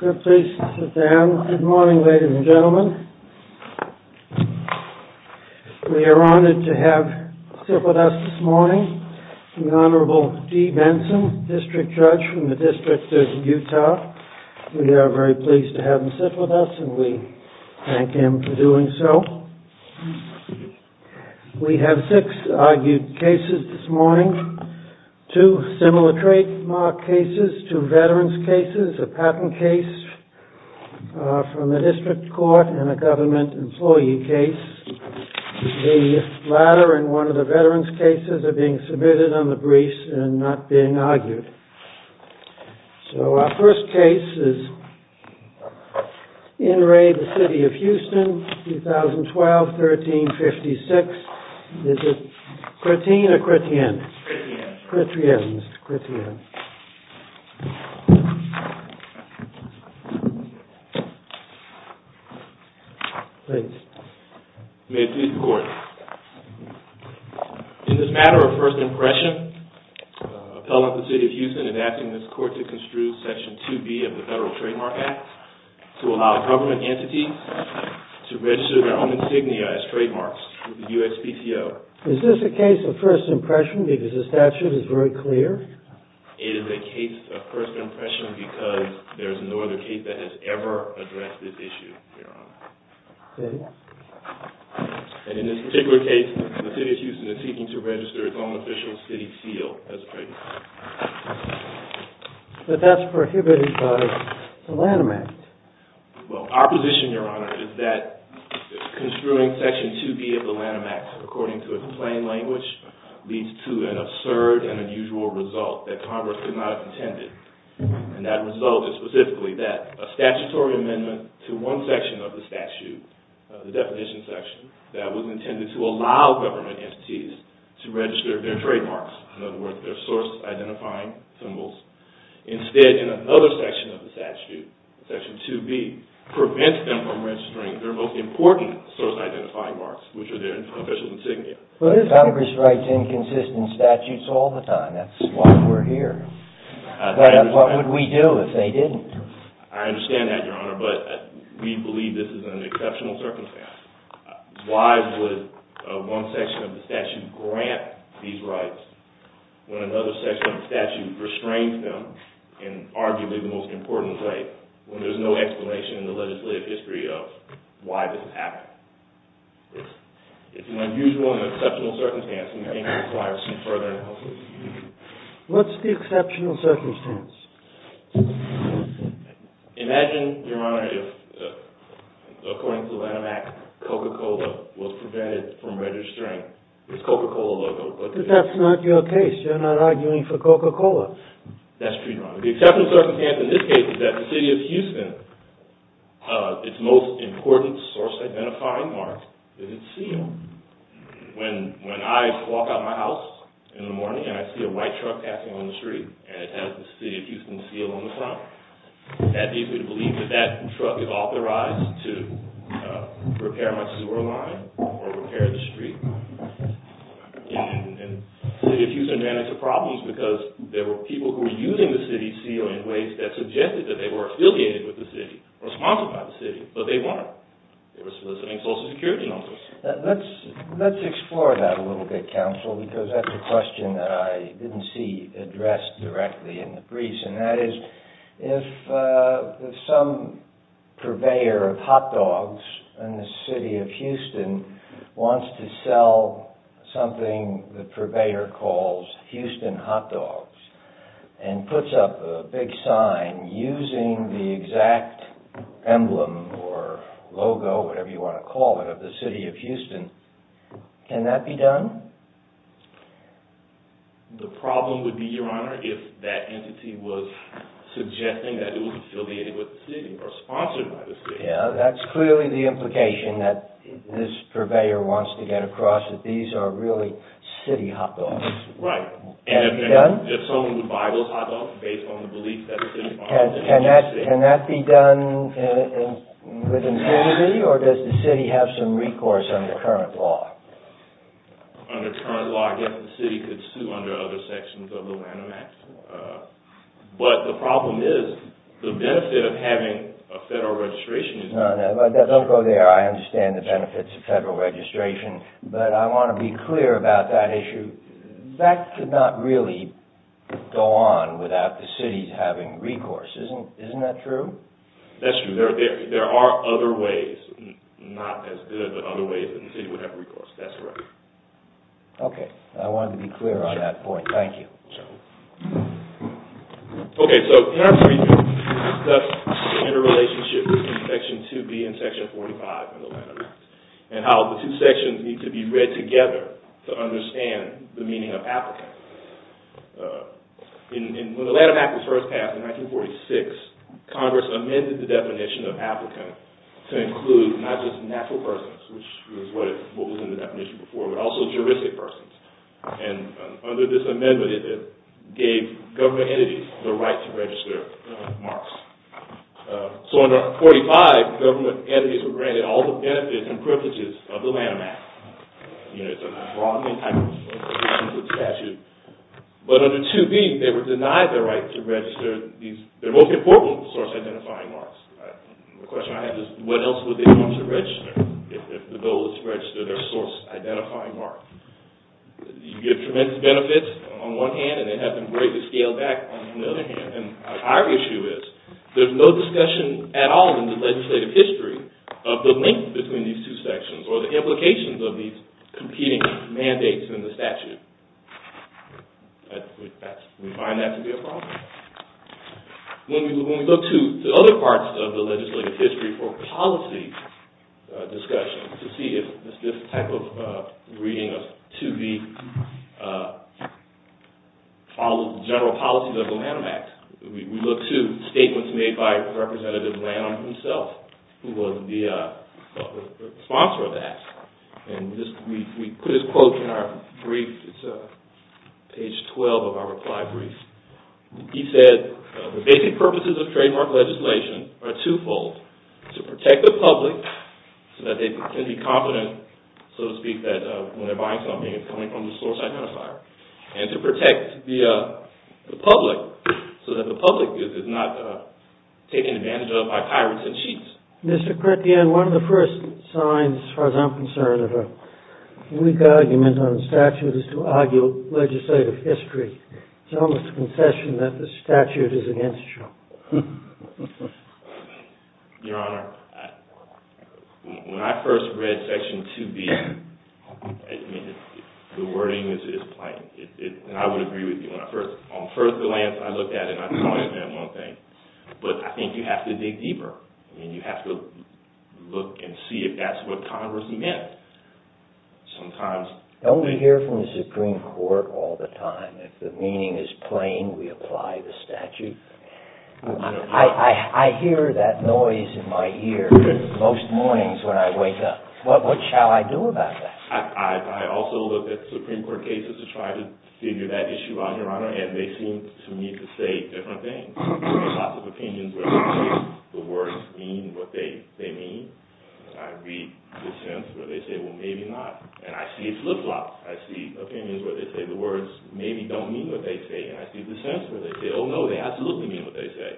Good morning ladies and gentlemen. We are honored to have with us this morning the Honorable D. Benson, District Judge from the District of Utah. We are very pleased to have him sit with us and we thank him for doing so. We have six argued cases this morning, two similar trademark cases, two veterans cases, a patent case from the district court and a government employee case. The latter and one of the veterans cases are being submitted on the briefs and not being argued. So our first case is IN RE THE CITY OF HOUSTON, 2012, 1356. Is it a case of first impression because the statute is very clear? It is a case of first impression because there is no other case that has ever addressed this issue, Your Honor. And in this particular case, the City of Houston is seeking to register its own official city seal as a trademark. But that's prohibited by the Lanham Act. Well, our position, Your Honor, is that construing Section 2B of the Lanham Act according to a plain language leads to an absurd and unusual result that Congress could not have intended. And that result is specifically that a statutory amendment to one section of the statute, the definition section, that was intended to allow government entities to register their trademarks, in other words, their source identifying symbols, instead in another section of the statute, Section 2B, prevents them from registering their most important source identifying marks, which are their official insignia. But if Congress writes inconsistent statutes all the time, that's why we're here. What would we do if they didn't? I understand that, Your Honor, but we believe this is an exceptional circumstance. Why would one section of the statute grant these rights when another section of the statute restrains them in arguably the most important way, when there's no explanation in the legislative history of why this happened? It's an unusual and exceptional circumstance, and I think it requires some further analysis. What's the exceptional circumstance? Imagine, Your Honor, if, according to the Lanham Act, Coca-Cola was prevented from registering its Coca-Cola logo. But that's not your case. You're not arguing for Coca-Cola. That's true, Your Honor. The exceptional circumstance in this case is that the city of Houston, its most important city, and I see a white truck passing on the street, and it has the city of Houston seal on the front. That leads me to believe that that truck is authorized to repair my sewer line or repair the street. And the city of Houston ran into problems because there were people who were using the city seal in ways that suggested that they were affiliated with the city or sponsored by the city, but they weren't. They were soliciting Social Security numbers. Let's explore that a little bit, counsel, because that's a question that I didn't see addressed directly in the briefs, and that is if some purveyor of hot dogs in the city of Houston wants to sell something the purveyor calls Houston hot dogs and puts up a big sign using the exact emblem or logo, whatever you want to call it, of the city of Houston, can that be done? The problem would be, Your Honor, if that entity was suggesting that it was affiliated with the city or sponsored by the city. Yeah, that's clearly the implication that this purveyor wants to get across, that these are really city hot dogs. Right. And if someone would buy those hot dogs based on the belief that the city of Houston... Can that be done with impunity, or does the city have some recourse under current law? Under current law, I guess the city could sue under other sections of the Lanham Act, but the problem is the benefit of having a federal registration... No, no, don't go there. I understand the benefits of federal registration, but I want to be clear about that issue. That could not really go on without the cities having recourse. Isn't that true? That's true. There are other ways, not as good, but other ways that the city would have recourse. That's correct. Okay. I wanted to be clear on that point. Thank you. Okay, so in our brief, we discussed the interrelationship between Section 2B and Section 45 of the Lanham Act and how the two sections need to be read together to understand the meaning of applicant. When the Lanham Act was first passed in 1946, Congress amended the definition of applicant to include not just natural persons, which is what was in the definition before, but also juristic persons. And under this amendment, it gave government entities the right to register marks. So under 45, government entities were granted all the benefits and privileges of the Lanham Act. You know, it's a broadening type of statute. But under 2B, they were denied the right to register their most important source identifying marks. The question I have is what else would they want to register if the bill was to register their source identifying mark? You get tremendous benefits on one hand, and they have been greatly scaled back on the other hand. And our issue is there's no discussion at all in the legislative history of the link between these two sections or the implications of these competing mandates in the statute. We find that to be a problem. When we look to the other parts of the legislative history for policy discussion, to see if this type of reading of 2B follows the general policies of the Lanham Act, we look to statements made by Representative Lanham himself, who was the sponsor of that. And we put his quote in our brief. It's page 12 of our reply brief. He said, the basic purposes of trademark legislation are twofold. To protect the public so that they can be confident, so to speak, that when they're buying something, it's coming from the source identifier. And to protect the public so that the public is not taken advantage of by pirates and cheats. Mr. Chrétien, one of the first signs, as far as I'm concerned, of a weak argument on the statute is to argue legislative history. It's almost a concession that the statute is against you. Your Honor, when I first read Section 2B, the wording is plain. And I would agree with you. On first glance, I looked at it, and I thought it meant one thing. But I think you have to dig deeper, and you have to look and see if that's what Congress meant. Don't we hear from the Supreme Court all the time, if the meaning is plain, we apply the statute? I hear that noise in my ear most mornings when I wake up. What shall I do about that? I also look at Supreme Court cases to try to figure that issue out, Your Honor, and they seem to me to say different things. There are lots of opinions where they say the words mean what they mean. I read dissents where they say, well, maybe not. And I see flip-flops. I see opinions where they say the words maybe don't mean what they say. And I see dissents where they say, oh, no, they absolutely mean what they say.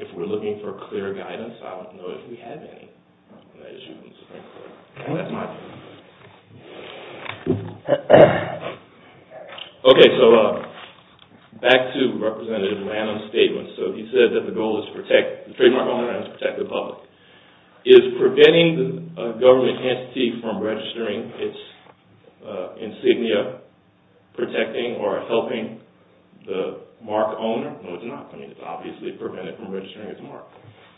If we're looking for clear guidance, I don't know if we have any on that issue in the Supreme Court. Okay, so back to Representative Lanham's statement. So he said that the goal is to protect the trademark owner and to protect the public. Is preventing the government entity from registering its insignia protecting or helping the mark owner? No, it's not. I mean, it's obviously preventing it from registering its mark.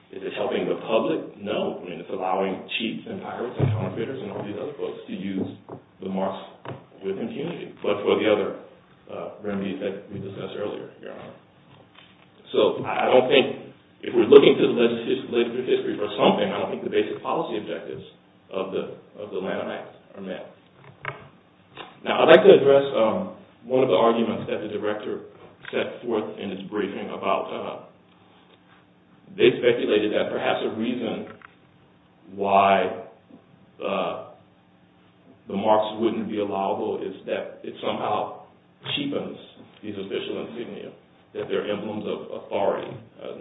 Is it helping the public? No, I mean, it's allowing cheats and pirates and counterfeiters and all these other folks to use the marks with impunity. But for the other remedies that we discussed earlier, Your Honor. So I don't think, if we're looking to the legislative history for something, I don't think the basic policy objectives of the Lanham Act are met. Now, I'd like to address one of the arguments that the director set forth in his briefing about – they speculated that perhaps a reason why the marks wouldn't be allowable is that it somehow cheapens these official insignia, that they're emblems of authority,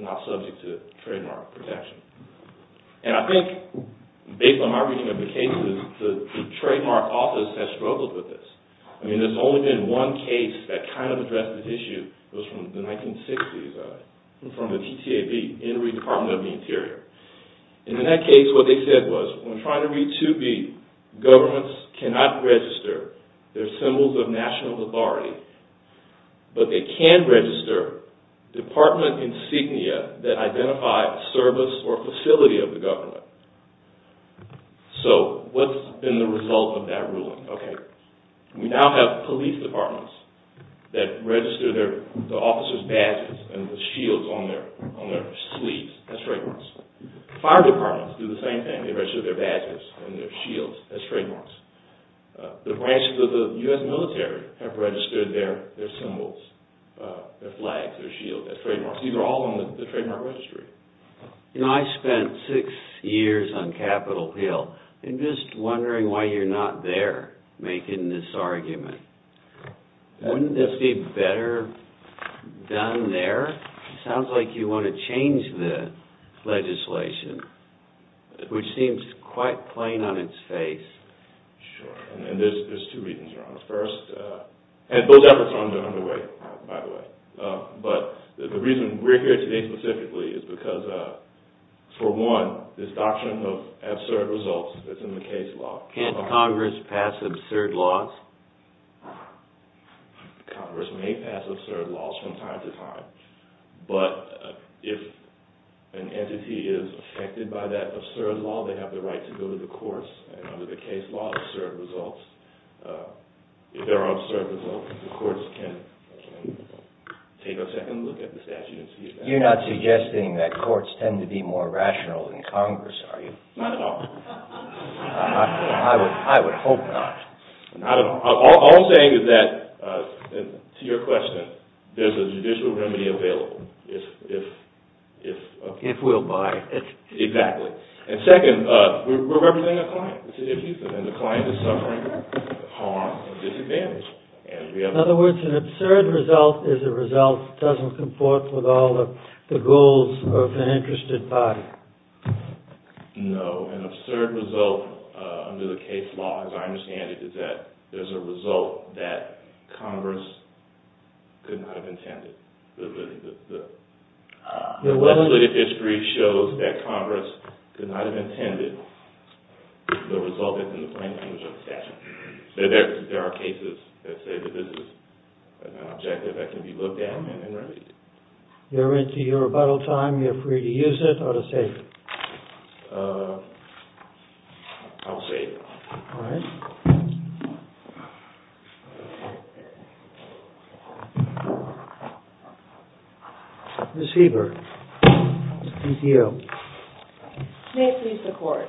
not subject to trademark protection. And I think, based on my reading of the cases, the trademark office has struggled with this. I mean, there's only been one case that kind of addressed this issue. It was from the 1960s. It was from the TTAB, Interim Department of the Interior. And in that case, what they said was, when trying to read 2B, governments cannot register their symbols of national authority, but they can register department insignia that identify service or facility of the government. So what's been the result of that ruling? Okay, we now have police departments that register the officers' badges and the shields on their sleeves as trademarks. Fire departments do the same thing. They register their badges and their shields as trademarks. The branches of the U.S. military have registered their symbols, their flags, their shields as trademarks. These are all on the trademark registry. You know, I spent six years on Capitol Hill and just wondering why you're not there making this argument. Wouldn't this be better done there? It sounds like you want to change the legislation, which seems quite plain on its face. Sure, and there's two reasons, Your Honor. First, and those efforts aren't underway, by the way. But the reason we're here today specifically is because, for one, this doctrine of absurd results that's in the case law. Can't Congress pass absurd laws? Congress may pass absurd laws from time to time. But if an entity is affected by that absurd law, they have the right to go to the courts. And under the case law, absurd results, if there are absurd results, the courts can take a second look at the statute and see if that's true. You're not suggesting that courts tend to be more rational than Congress, are you? Not at all. I would hope not. Not at all. All I'm saying is that, to your question, there's a judicial remedy available. If we'll buy it. Exactly. And second, we're representing a client. And the client is suffering harm and disadvantage. In other words, an absurd result is a result that doesn't comport with all of the goals of an interested party. No, an absurd result under the case law, as I understand it, is that there's a result that Congress could not have intended. The legislative history shows that Congress could not have intended the result that's in the plain language of the statute. There are cases that say that this is an objective that can be looked at and remedied. You're into your rebuttal time. You're free to use it or to save it. I'll save it. All right. Ms. Hebert, CTO. May it please the Court.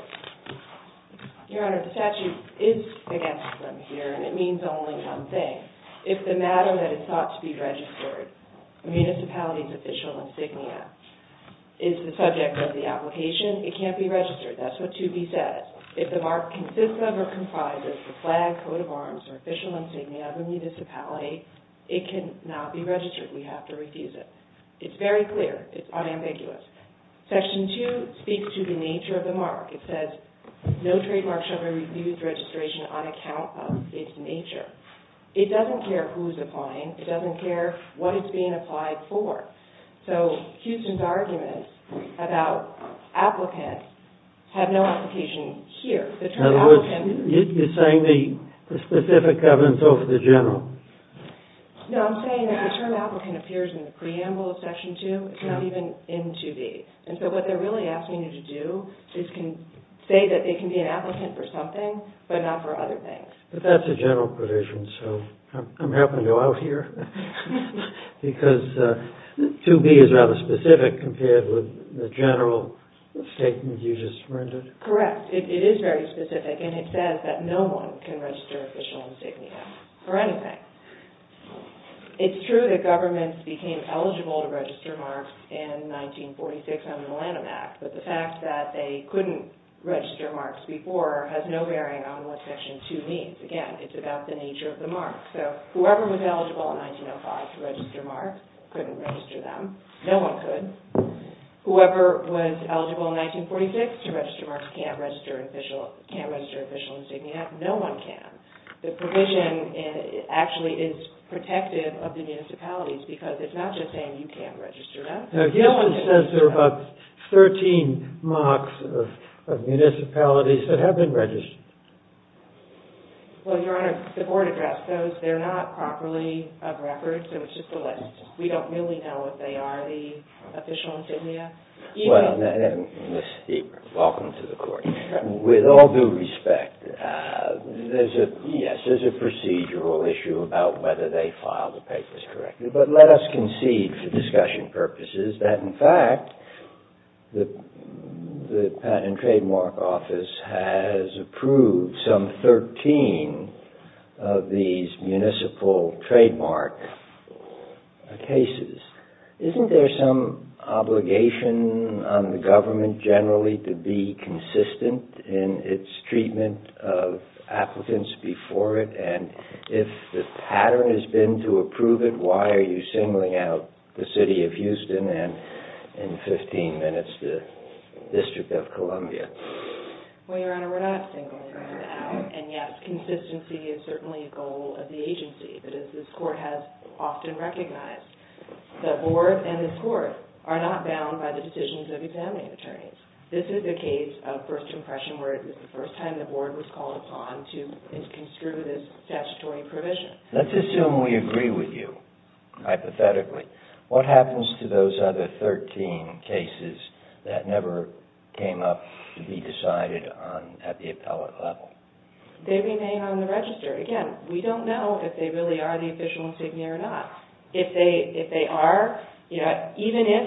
Your Honor, the statute is against them here, and it means only one thing. If the matter that is thought to be registered, a municipality's official insignia, is the subject of the application, it can't be registered. That's what 2B says. If the mark consists of or comprises the flag, coat of arms, or official insignia of a municipality, it cannot be registered. We have to refuse it. It's very clear. It's unambiguous. Section 2 speaks to the nature of the mark. It says, no trademark shall be refused registration on account of its nature. It doesn't care who's applying. It doesn't care what it's being applied for. So Houston's argument about applicants have no application here. In other words, you're saying the specific evidence over the general. No, I'm saying that the term applicant appears in the preamble of Section 2. It's not even in 2B. And so what they're really asking you to do is say that it can be an applicant for something, but not for other things. But that's a general provision, so I'm happy to go out here. Because 2B is rather specific compared with the general statement you just rendered. Correct. It is very specific, and it says that no one can register official insignia for anything. It's true that governments became eligible to register marks in 1946 under the Lanham Act, but the fact that they couldn't register marks before has no bearing on what Section 2 means. Again, it's about the nature of the mark. So whoever was eligible in 1905 to register marks couldn't register them. No one could. Whoever was eligible in 1946 to register marks can't register official insignia. No one can. The provision actually is protective of the municipalities, because it's not just saying you can't register them. Now, Gilman says there are about 13 marks of municipalities that have been registered. Well, Your Honor, the board address says they're not properly of record, so it's just a list. We don't really know what they are, the official insignia. Well, and Ms. Steber, welcome to the Court. With all due respect, yes, there's a procedural issue about whether they file the papers correctly, but let us concede for discussion purposes that, in fact, the Patent and Trademark Office has approved some 13 of these municipal trademark cases. Isn't there some obligation on the government generally to be consistent in its treatment of applicants before it? And if the pattern has been to approve it, why are you singling out the City of Houston and, in 15 minutes, the District of Columbia? Well, Your Honor, we're not singling them out. And, yes, consistency is certainly a goal of the agency. But as this Court has often recognized, the board and this Court are not bound by the decisions of examining attorneys. This is a case of first impression where it was the first time the board was called upon to construe this statutory provision. Let's assume we agree with you, hypothetically. What happens to those other 13 cases that never came up to be decided at the appellate level? They remain on the register. Again, we don't know if they really are the official insignia or not. If they are, even if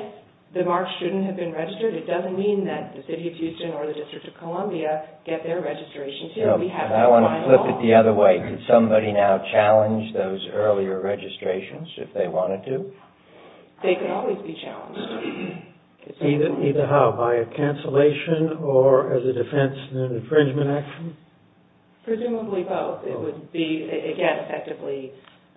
the marks shouldn't have been registered, it doesn't mean that the City of Houston or the District of Columbia get their registration. I want to flip it the other way. Could somebody now challenge those earlier registrations if they wanted to? They could always be challenged. Either how, by a cancellation or as a defense in an infringement action? Presumably both. It would be, again, effectively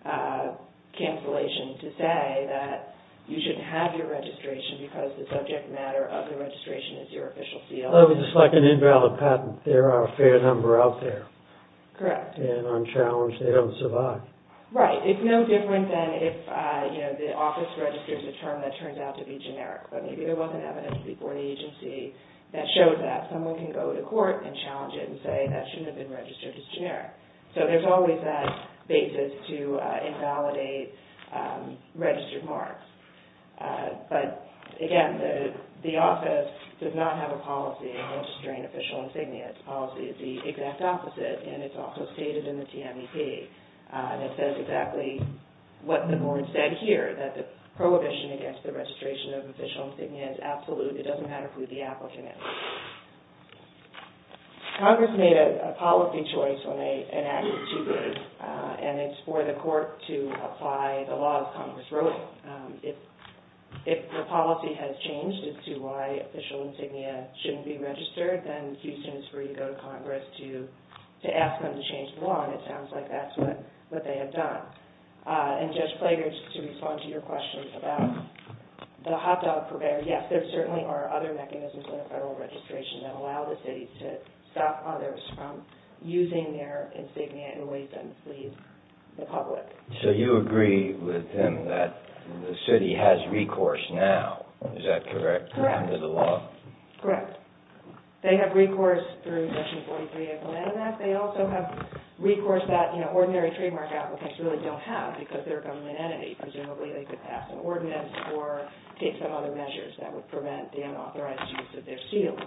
cancellation to say that you shouldn't have your registration because the subject matter of the registration is your official seal. It's like an invalid patent. There are a fair number out there. Correct. And unchallenged, they don't survive. Right. It's no different than if the office registers a term that turns out to be generic. But maybe there wasn't evidence before the agency that shows that. Someone can go to court and challenge it and say that shouldn't have been registered as generic. So there's always that basis to invalidate registered marks. But, again, the office does not have a policy of registering official insignia. Its policy is the exact opposite, and it's also stated in the TMEP. And it says exactly what the board said here, that the prohibition against the registration of official insignia is absolute. It doesn't matter who the applicant is. Congress made a policy choice when they enacted 2B, and it's for the court to apply the law as Congress wrote it. If the policy has changed as to why official insignia shouldn't be registered, then Houston is free to go to Congress to ask them to change the law. And it sounds like that's what they have done. And, Judge Plager, just to respond to your question about the hot dog purveyor, yes, there certainly are other mechanisms in the federal registration that allow the city to stop others from using their insignia in ways that enslave the public. So you agree with him that the city has recourse now, is that correct? Correct. Under the law? Correct. They have recourse through Section 43 of the Land Act. They also have recourse that ordinary trademark applicants really don't have because they're a government entity. Presumably they could pass an ordinance or take some other measures that would prevent the unauthorized use of their seal.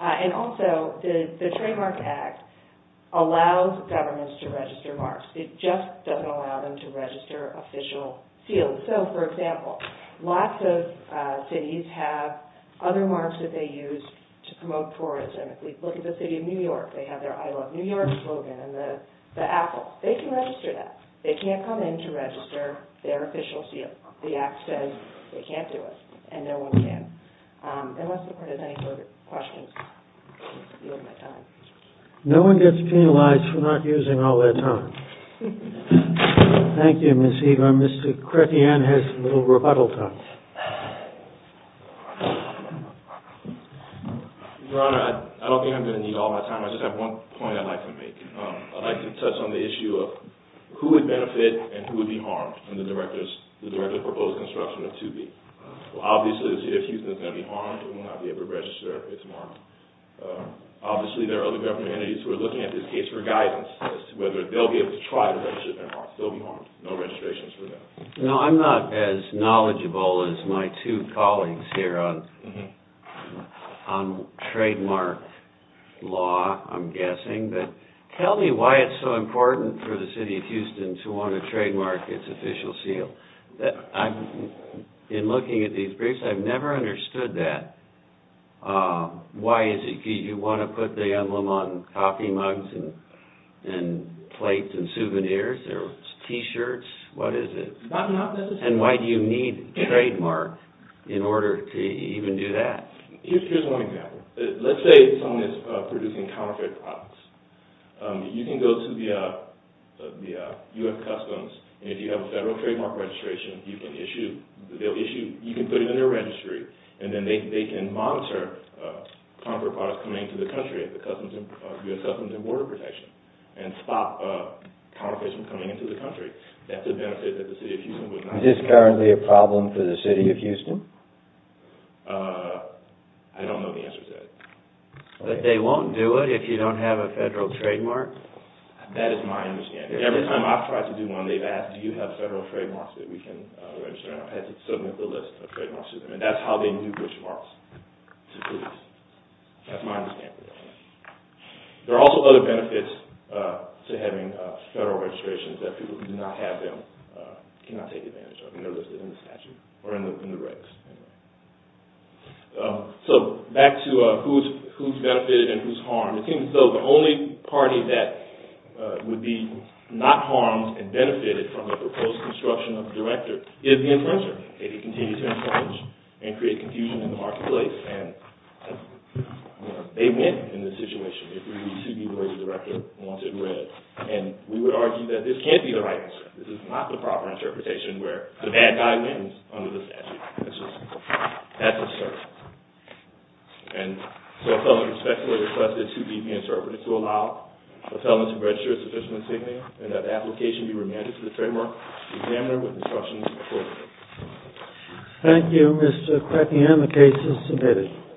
And also, the Trademark Act allows governments to register marks. It just doesn't allow them to register official seals. So, for example, lots of cities have other marks that they use to promote tourism. If we look at the city of New York, they have their I Love New York slogan and the apple. They can register that. They can't come in to register their official seal. The Act says they can't do it, and no one can. Unless the court has any further questions, I'm going to yield my time. No one gets penalized for not using all their time. Thank you, Ms. Eagle. Mr. Crepean has a little rebuttal time. Your Honor, I don't think I'm going to need all my time. I just have one point I'd like to make. I'd like to touch on the issue of who would benefit and who would be harmed in the directly proposed construction of 2B. Obviously, if Houston is going to be harmed, it will not be able to register its mark. Obviously, there are other government entities who are looking at this case for guidance as to whether they'll be able to try to register their mark. They'll be harmed. No registrations for them. No, I'm not as knowledgeable as my two colleagues here on trademark law, I'm guessing. But tell me why it's so important for the city of Houston to want to trademark its official seal. In looking at these briefs, I've never understood that. Why is it? Do you want to put the emblem on coffee mugs and plates and souvenirs or T-shirts? What is it? Not necessarily. And why do you need trademark in order to even do that? Here's one example. Let's say someone is producing counterfeit products. You can go to the U.S. Customs, and if you have a federal trademark registration, you can put it in their registry, and then they can monitor counterfeit products coming into the country at the U.S. Customs and Border Protection and stop counterfeit from coming into the country. That's a benefit that the city of Houston would not have. Is this currently a problem for the city of Houston? I don't know the answer to that. But they won't do it if you don't have a federal trademark? That is my understanding. Every time I've tried to do one, they've asked, do you have federal trademarks that we can register, and I've had to submit the list of trademarks to them. And that's how they knew which marks to produce. That's my understanding. There are also other benefits to having federal registrations that people who do not have them cannot take advantage of. They're listed in the statute or in the regs. So, back to who's benefited and who's harmed. It seems as though the only party that would be not harmed and benefited from the proposed construction of a director is the infringer, if he continues to infringe and create confusion in the marketplace. And they win in this situation if we receive the word director once it's read. And we would argue that this can't be the right answer. This is not the proper interpretation where the bad guy wins under the statute. That's just, that's absurd. And so, a felon is respectfully requested to be interpreted to allow a felon to register a sufficient insignia and that the application be remanded to the trademark examiner with instructions appropriate. Thank you, Mr. Quicken. The case is submitted.